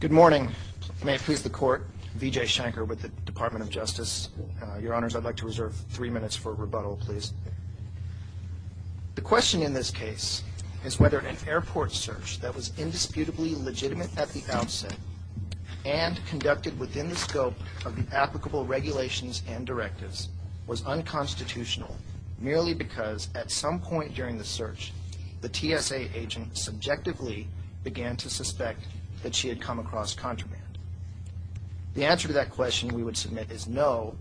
Good morning. May it please the court, Vijay Shankar with the Department of Justice. Your Honors, I'd like to reserve three minutes for rebuttal, please. The question in this case is whether an airport search that was indisputably legitimate at the outset and conducted within the scope of the applicable regulations and directives was unconstitutional merely because at some point during the search the TSA agent subjectively began to suspect that she had come across contraband. The answer to that question we would submit is no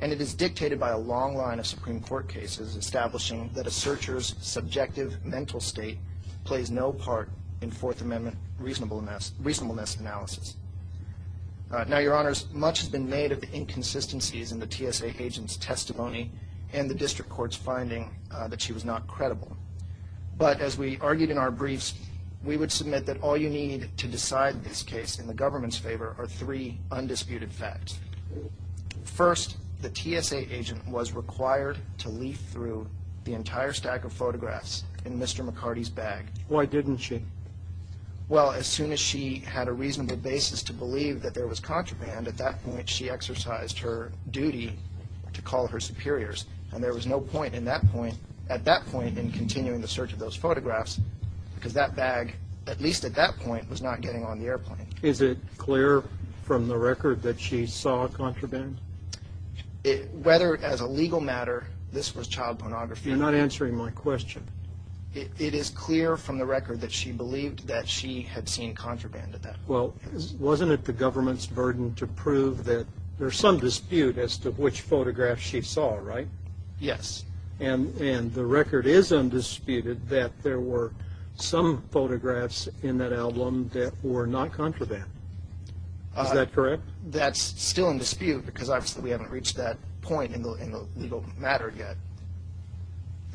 and it is dictated by a long line of Supreme Court cases establishing that a searcher's subjective mental state plays no part in Fourth Amendment reasonableness analysis. Now, Your Honors, much has been made of the inconsistencies in the TSA agent's testimony and the District Court's finding that she was not credible. But as we argued in our briefs, we would submit that all you need to decide this case in the government's favor are three undisputed facts. First, the TSA agent was required to leaf through the entire stack of photographs in Mr. McCarty's bag. Why didn't she? Well, as soon as she had a reasonable basis to believe that there was contraband, at that point she exercised her duty to call her superiors and there was no point at that point in continuing the search of those photographs because that bag, at least at that point, was not getting on the airplane. Is it clear from the record that she saw contraband? Whether as a legal matter this was child pornography You're not answering my question. It is clear from the record that she believed that she had seen contraband at that point. Well, wasn't it the government's burden to prove that there's some dispute as to which photographs she saw, right? Yes. And the record is undisputed that there were some photographs in that album that were not contraband. Is that correct? That's still in dispute because obviously we haven't reached that point in the legal matter yet.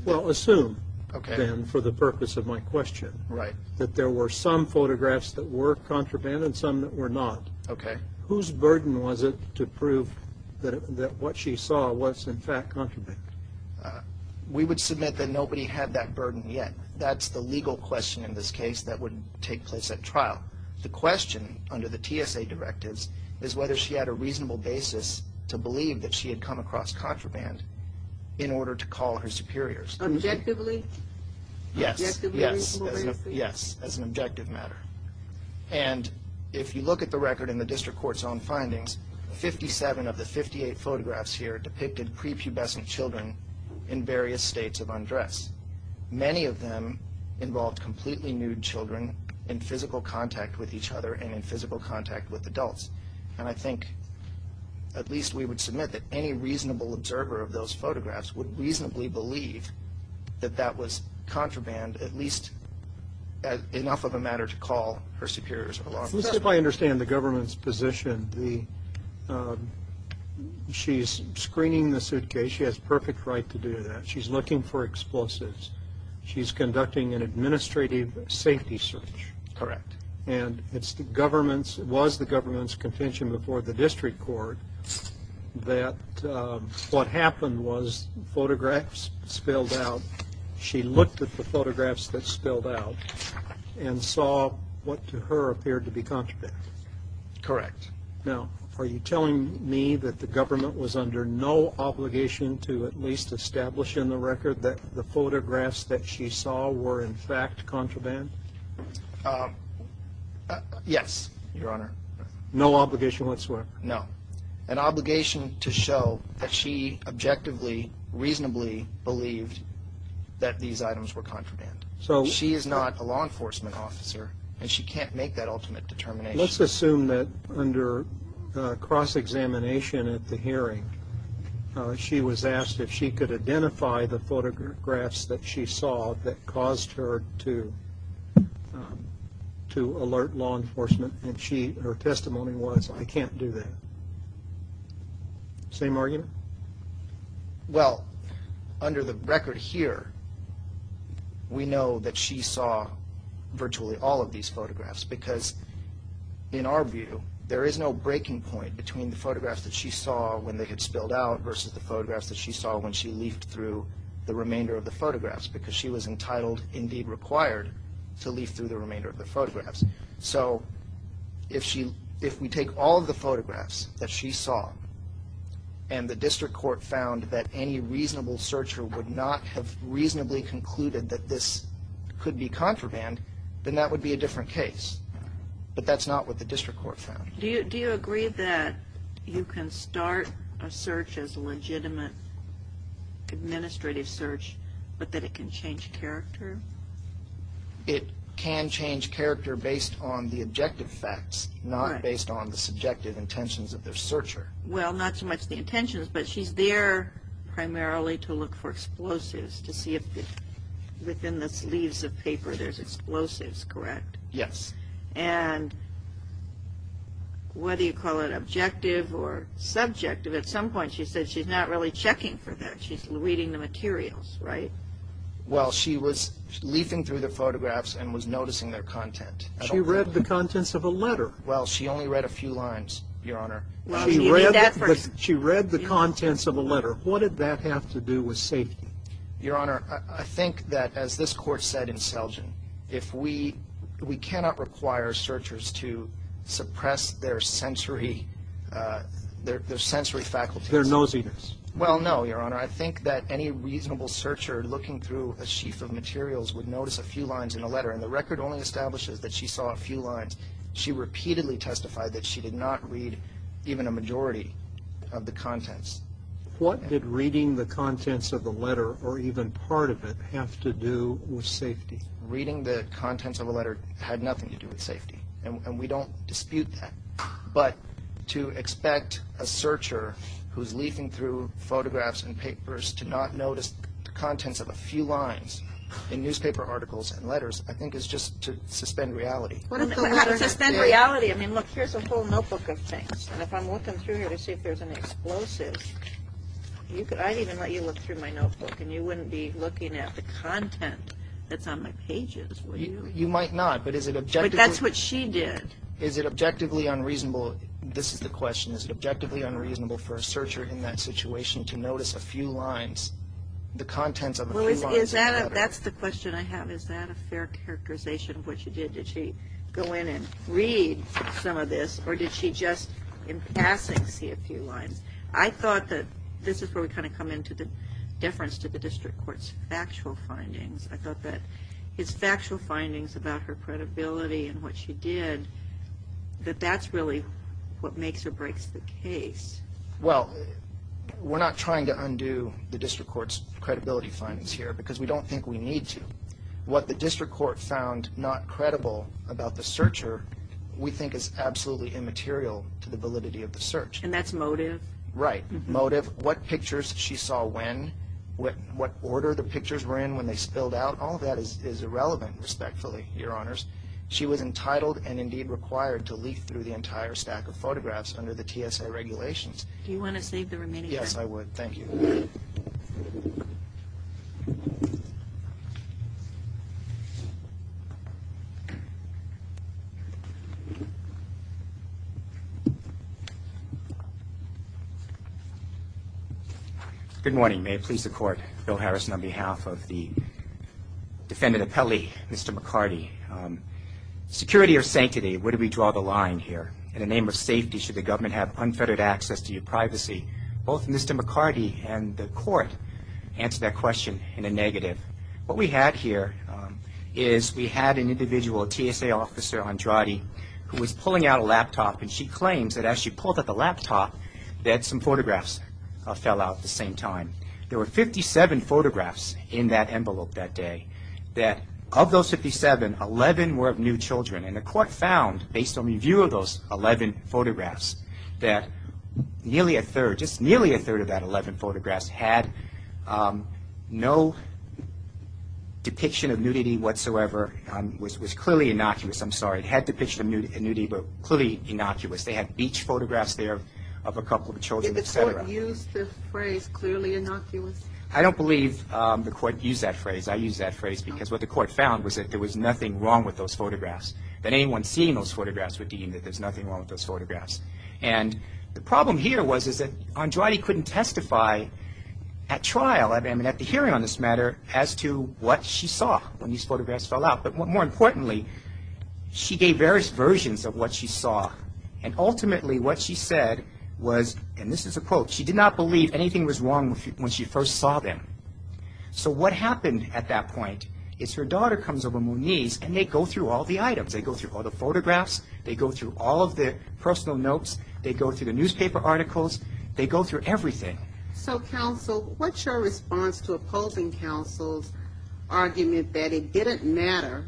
Well, assume then, for the purpose of my question, that there were some photographs that were contraband and some that were not. Whose burden was it to prove that what she saw was in fact contraband? We would submit that nobody had that burden yet. That's the legal question in this case that would take place at trial. The question under the TSA directives is whether she had a reasonable basis to believe that she had come across contraband in order to call her superiors. Objectively? Yes. Objectively reasonable basis? Yes. As an objective matter. And if you look at the record in the district court's own findings, 57 of the 58 photographs here depicted prepubescent children in various states of undress. Many of them involved completely nude children in physical contact with each other and in physical contact with adults. And I think at least we would submit that any reasonable observer of those photographs would reasonably believe that that was contraband, at least enough of a matter to call her superiors or law enforcement. Let's see if I understand the government's position. She's screening the suitcase. She has perfect right to do that. She's looking for explosives. She's conducting an administrative safety search. Correct. And it was the government's convention before the district court that what happened was photographs spilled out. She looked at the photographs that spilled out and saw what to her appeared to be contraband. Correct. Now, are you telling me that the government was under no obligation to at least establish in the record that the photographs that she saw were in fact contraband? Yes, Your Honor. No obligation whatsoever? No. An obligation to show that she objectively, reasonably believed that these items were contraband. She is not a law enforcement officer, and she can't make that ultimate determination. Let's assume that under cross-examination at the hearing, she was asked if she could identify the photographs that she saw that caused her to alert law enforcement. And her testimony was, I can't do that. Same argument? Well, under the record here, we know that she saw virtually all of these photographs because in our view, there is no breaking point between the photographs that she saw when they had spilled out versus the photographs that she saw when she leafed through the remainder of the photographs because she was entitled, indeed required, to leaf through the remainder of the photographs. So if we take all of the photographs that she saw and the district court found that any reasonable searcher would not have reasonably concluded that this could be contraband, then that would be a different case. But that's not what the district court found. Do you agree that you can start a search as a legitimate administrative search, but that it can change character? It can change character based on the objective facts, not based on the subjective intentions of the searcher. Well, not so much the intentions, but she's there primarily to look for explosives, to see if within the sleeves of paper there's explosives, correct? Yes. And whether you call it objective or subjective, at some point she said she's not really checking for that. She's reading the materials, right? Well, she was leafing through the photographs and was noticing their content. She read the contents of a letter. Well, she only read a few lines, Your Honor. She read the contents of a letter. What did that have to do with safety? Your Honor, I think that as this Court said in Selgin, if we cannot require searchers to suppress their sensory faculties. Their nosiness. Well, no, Your Honor. I think that any reasonable searcher looking through a sheaf of materials would notice a few lines in a letter, and the record only establishes that she saw a few lines. She repeatedly testified that she did not read even a majority of the contents. What did reading the contents of the letter, or even part of it, have to do with safety? Reading the contents of a letter had nothing to do with safety, and we don't dispute that. But to expect a searcher who's leafing through photographs and papers to not notice the contents of a few lines in newspaper articles and letters, I think is just to suspend reality. How to suspend reality? I mean, look, here's a whole notebook of things, and if I'm looking through here to see if there's an explosive, I'd even let you look through my notebook, and you wouldn't be looking at the content that's on my pages, would you? You might not, but is it objectively? But that's what she did. Is it objectively unreasonable? This is the question. Is it objectively unreasonable for a searcher in that situation to notice a few lines, the contents of a few lines in a letter? That's the question I have. Is that a fair characterization of what she did? Did she go in and read some of this, or did she just, in passing, see a few lines? I thought that this is where we kind of come into the difference to the district court's factual findings. I thought that his factual findings about her credibility and what she did, that that's really what makes or breaks the case. Well, we're not trying to undo the district court's credibility findings here because we don't think we need to. What the district court found not credible about the searcher, we think is absolutely immaterial to the validity of the search. And that's motive? Right, motive. What pictures she saw when, what order the pictures were in when they spilled out, all of that is irrelevant, respectfully, Your Honors. She was entitled and indeed required to leaf through the entire stack of photographs under the TSA regulations. Do you want to save the remaining time? Yes, I would. Thank you. Good morning. May it please the court, Bill Harrison on behalf of the defendant appellee, Mr. McCarty. Security or sanctity, where do we draw the line here? In the name of safety, should the government have unfettered access to your privacy? Both Mr. McCarty and the court answered that question in a negative. What we had here is we had an individual, a TSA officer, Andrade, who was pulling out a laptop, and she claims that as she pulled out the laptop that some photographs fell out at the same time. There were 57 photographs in that envelope that day, that of those 57, 11 were of new children. And the court found, based on review of those 11 photographs, that nearly a third, just nearly a third of that 11 photographs had no depiction of nudity whatsoever, was clearly innocuous, I'm sorry, had depiction of nudity, but clearly innocuous. They had beach photographs there of a couple of children, et cetera. Did the court use the phrase clearly innocuous? I don't believe the court used that phrase. I used that phrase because what the court found was that there was nothing wrong with those photographs, that anyone seeing those photographs would deem that there's nothing wrong with those photographs. And the problem here was that Andrade couldn't testify at trial, at the hearing on this matter, as to what she saw when these photographs fell out. But more importantly, she gave various versions of what she saw. And ultimately what she said was, and this is a quote, she did not believe anything was wrong when she first saw them. So what happened at that point is her daughter comes over Moniz and they go through all the items. They go through all the photographs. They go through all of the personal notes. They go through the newspaper articles. They go through everything. So, counsel, what's your response to opposing counsel's argument that it didn't matter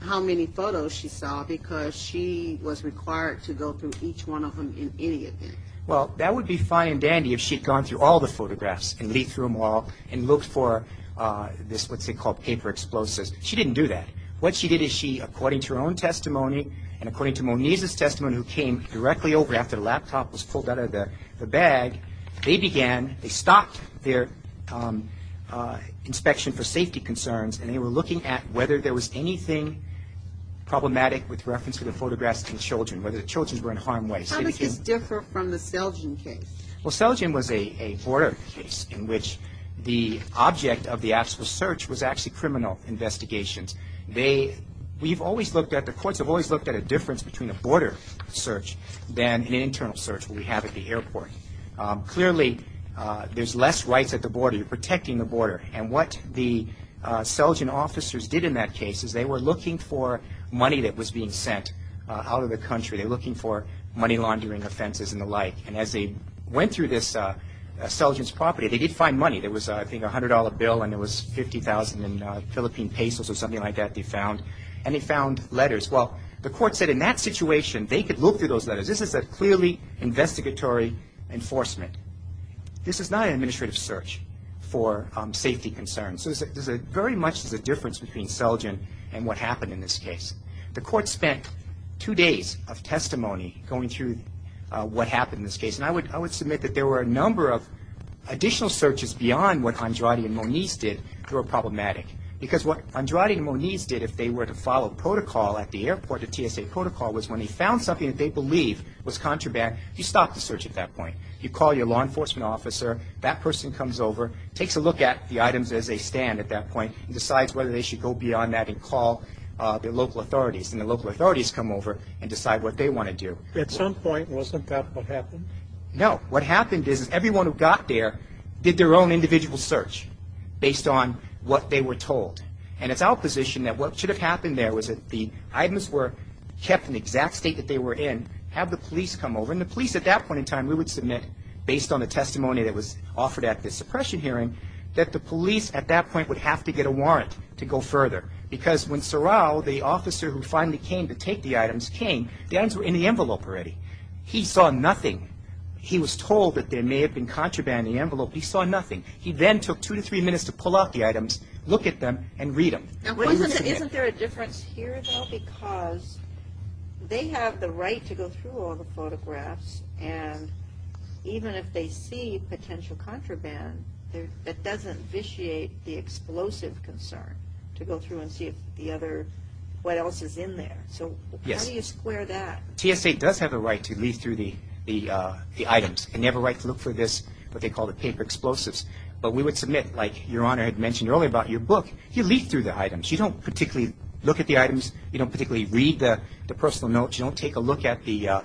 how many photos she saw because she was required to go through each one of them in any event? Well, that would be fine and dandy if she'd gone through all the photographs and leafed through them all and looked for this, let's say, called paper explosives. She didn't do that. What she did is she, according to her own testimony and according to Moniz's testimony who came directly over after the laptop was pulled out of the bag, they began, they stopped their inspection for safety concerns and they were looking at whether there was anything problematic with reference to the photographs of the children, whether the children were in harm's way. How does this differ from the Selgin case? Well, Selgin was a border case in which the object of the actual search was actually criminal investigations. They, we've always looked at, the courts have always looked at a difference between a border search than an internal search that we have at the airport. Clearly, there's less rights at the border. You're protecting the border. And what the Selgin officers did in that case is they were looking for money that was being sent out of the country. They were looking for money laundering offenses and the like. And as they went through this Selgin's property, they did find money. There was, I think, a $100 bill and it was 50,000 in Philippine pesos or something like that they found. And they found letters. Well, the court said in that situation they could look through those letters. This is a clearly investigatory enforcement. This is not an administrative search for safety concerns. So there's very much a difference between Selgin and what happened in this case. The court spent two days of testimony going through what happened in this case. And I would submit that there were a number of additional searches beyond what Andrade and Moniz did that were problematic. Because what Andrade and Moniz did if they were to follow protocol at the airport, the TSA protocol, was when they found something that they believed was contraband, you stop the search at that point. You call your law enforcement officer. That person comes over, takes a look at the items as they stand at that point, and decides whether they should go beyond that and call their local authorities. And the local authorities come over and decide what they want to do. At some point, wasn't that what happened? No. What happened is everyone who got there did their own individual search based on what they were told. And it's our position that what should have happened there was that the items were kept in the exact state that they were in, have the police come over, and the police at that point in time, we would submit, based on the testimony that was offered at the suppression hearing, that the police at that point would have to get a warrant to go further. Because when Sorrell, the officer who finally came to take the items, came, the items were in the envelope already. He saw nothing. He was told that there may have been contraband in the envelope. He saw nothing. He then took two to three minutes to pull out the items, look at them, and read them. Now, isn't there a difference here, though? Because they have the right to go through all the photographs, and even if they see potential contraband, it doesn't vitiate the explosive concern to go through and see if the other, what else is in there. So how do you square that? TSA does have a right to leaf through the items, and they have a right to look for this, what they call the paper explosives. But we would submit, like Your Honor had mentioned earlier about your book, you leaf through the items. You don't particularly look at the items. You don't particularly read the personal notes. You don't take a look at the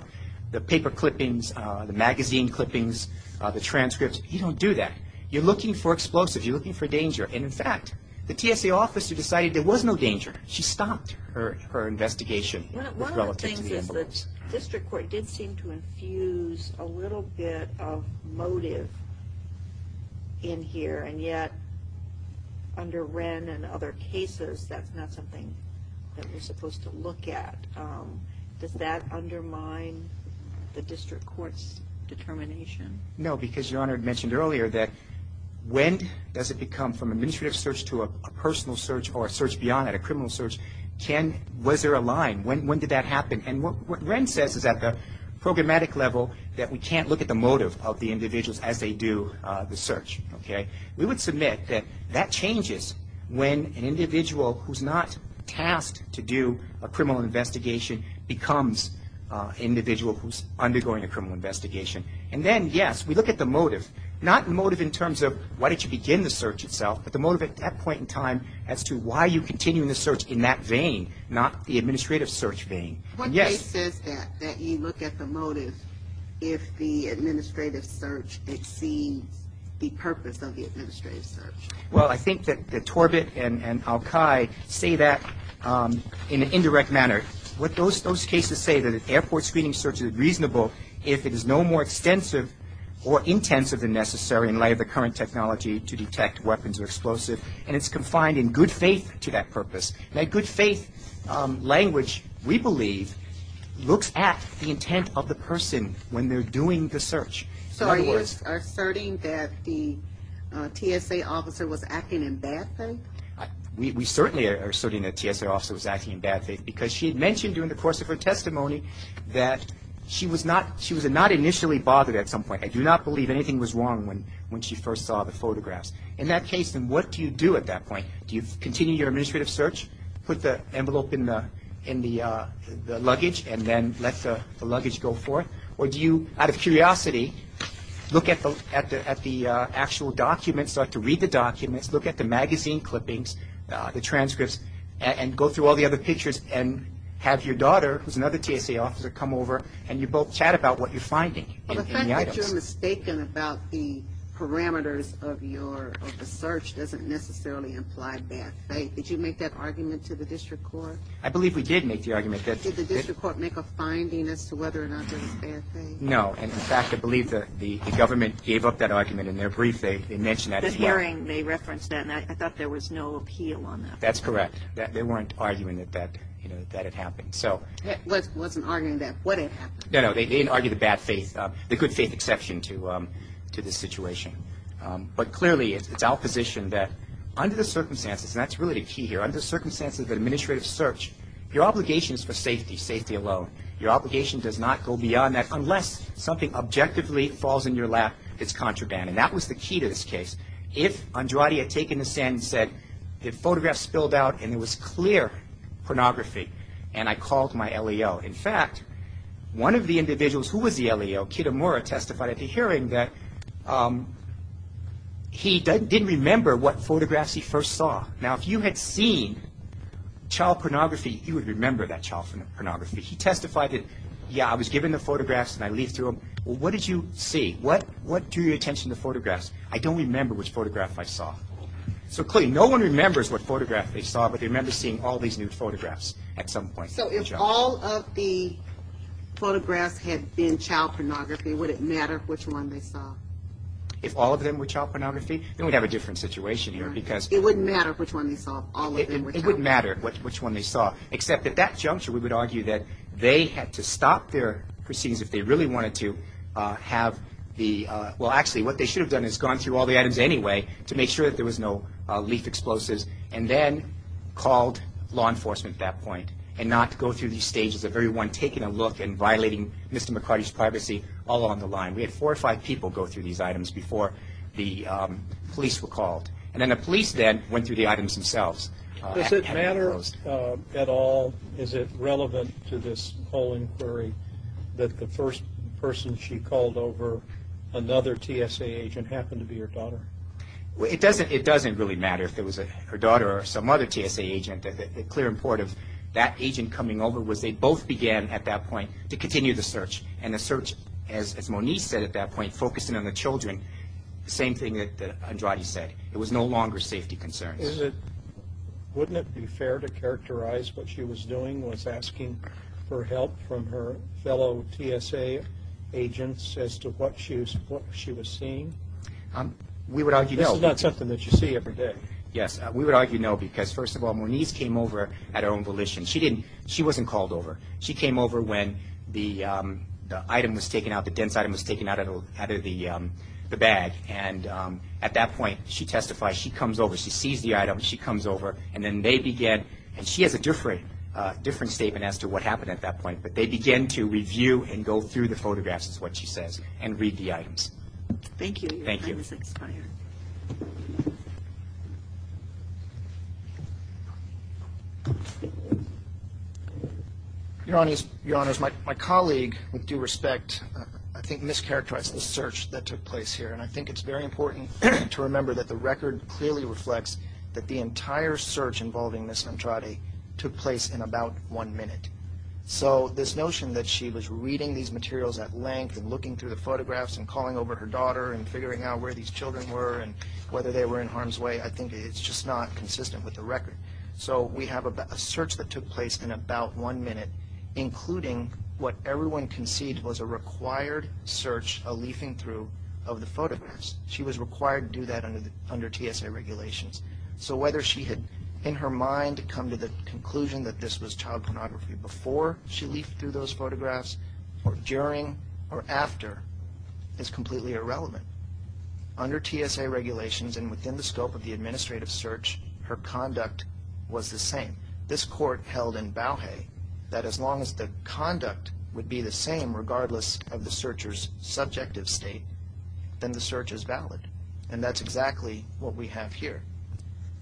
paper clippings, the magazine clippings, the transcripts. You don't do that. You're looking for explosives. You're looking for danger. And, in fact, the TSA officer decided there was no danger. She stopped her investigation. One of the things is that district court did seem to infuse a little bit of motive in here, and yet under Wren and other cases, that's not something that we're supposed to look at. Does that undermine the district court's determination? No, because Your Honor had mentioned earlier that when does it become, from an administrative search to a personal search or a search beyond that, a criminal search, was there a line? When did that happen? And what Wren says is at the programmatic level that we can't look at the motive of the individuals as they do the search. We would submit that that changes when an individual who's not tasked to do a criminal investigation becomes an individual who's undergoing a criminal investigation. And then, yes, we look at the motive. Not the motive in terms of why did you begin the search itself, but the motive at that point in time as to why are you continuing the search in that vein, not the administrative search vein. One case says that, that you look at the motive if the administrative search exceeds the purpose of the administrative search. Well, I think that Torbett and Alki say that in an indirect manner. Those cases say that an airport screening search is reasonable if it is no more extensive or intensive than necessary in light of the current technology to detect weapons or explosives, and it's confined in good faith to that purpose. Now, good faith language, we believe, looks at the intent of the person when they're doing the search. So are you asserting that the TSA officer was acting in bad faith? We certainly are asserting that the TSA officer was acting in bad faith because she had mentioned during the course of her testimony that she was not initially bothered at some point. I do not believe anything was wrong when she first saw the photographs. In that case, then, what do you do at that point? Do you continue your administrative search, put the envelope in the luggage, and then let the luggage go forth, or do you, out of curiosity, look at the actual documents, start to read the documents, look at the magazine clippings, the transcripts, and go through all the other pictures and have your daughter, who's another TSA officer, come over and you both chat about what you're finding in the items. But the fact that you're mistaken about the parameters of your search doesn't necessarily imply bad faith. Did you make that argument to the district court? I believe we did make the argument. Did the district court make a finding as to whether or not this is bad faith? No, and, in fact, I believe the government gave up that argument in their brief. They mentioned that as well. The hearing, they referenced that, and I thought there was no appeal on that. That's correct. They weren't arguing that that had happened. I wasn't arguing that. What had happened? No, no, they didn't argue the good faith exception to this situation. But clearly it's our position that under the circumstances, and that's really the key here, under the circumstances of an administrative search, your obligation is for safety, safety alone. Your obligation does not go beyond that unless something objectively falls in your lap, it's contraband. And that was the key to this case. If Andrade had taken the stand and said the photograph spilled out and it was clear pornography and I called my LAO, in fact, one of the individuals who was the LAO, Kitamura, testified at the hearing that he didn't remember what photographs he first saw. Now, if you had seen child pornography, you would remember that child pornography. He testified that, yeah, I was given the photographs and I leafed through them. Well, what did you see? What drew your attention to the photographs? I don't remember which photograph I saw. So clearly no one remembers what photograph they saw, but they remember seeing all these new photographs at some point. So if all of the photographs had been child pornography, would it matter which one they saw? If all of them were child pornography, then we'd have a different situation here because It wouldn't matter which one they saw if all of them were child pornography. It wouldn't matter which one they saw, except at that juncture we would argue that they had to stop their proceedings if they really wanted to have the – well, actually, what they should have done is gone through all the items anyway to make sure that there was no leaf explosives and then called law enforcement at that point and not go through these stages of everyone taking a look and violating Mr. McCarty's privacy all along the line. We had four or five people go through these items before the police were called. And then the police then went through the items themselves. Does it matter at all? Is it relevant to this whole inquiry that the first person she called over, another TSA agent, happened to be her daughter? It doesn't really matter if it was her daughter or some other TSA agent. The clear import of that agent coming over was they both began at that point to continue the search. And the search, as Moniz said at that point, focused in on the children, the same thing that Andrade said. It was no longer safety concerns. Wouldn't it be fair to characterize what she was doing was asking for help from her fellow TSA agents as to what she was seeing? We would argue no. This is not something that you see every day. Yes, we would argue no because, first of all, Moniz came over at her own volition. She wasn't called over. She came over when the item was taken out, the dense item was taken out of the bag. At that point, she testifies. She comes over. She sees the item. She comes over. She has a different statement as to what happened at that point. But they began to review and go through the photographs, is what she says, and read the items. Thank you. Thank you. Your Honors, my colleague with due respect I think mischaracterized the search that took place here. And I think it's very important to remember that the record clearly reflects that the entire search involving Ms. Andrade took place in about one minute. So this notion that she was reading these materials at length and looking through the photographs and calling over her daughter and figuring out where these children were and whether they were in harm's way, I think it's just not consistent with the record. So we have a search that took place in about one minute, including what everyone conceded was a required search, a leafing through of the photographs. She was required to do that under TSA regulations. So whether she had in her mind come to the conclusion that this was child pornography before she leafed through those photographs or during or after is completely irrelevant. Under TSA regulations and within the scope of the administrative search, her conduct was the same. This court held in Bauhey that as long as the conduct would be the same regardless of the searcher's subjective state, then the search is valid. And that's exactly what we have here.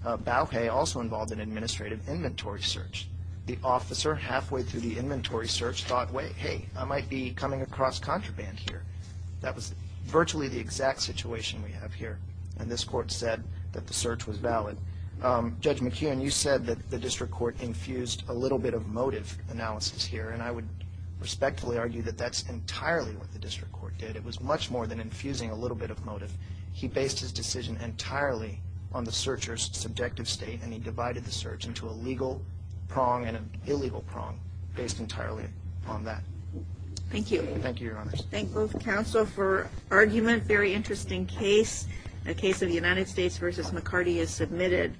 Bauhey also involved an administrative inventory search. The officer halfway through the inventory search thought, hey, I might be coming across contraband here. That was virtually the exact situation we have here. And this court said that the search was valid. Judge McKeon, you said that the district court infused a little bit of motive analysis here. And I would respectfully argue that that's entirely what the district court did. It was much more than infusing a little bit of motive. He based his decision entirely on the searcher's subjective state, and he divided the search into a legal prong and an illegal prong based entirely on that. Thank you. Thank you, Your Honor. I thank both counsel for argument. Very interesting case. A case of United States v. McCarty is submitted.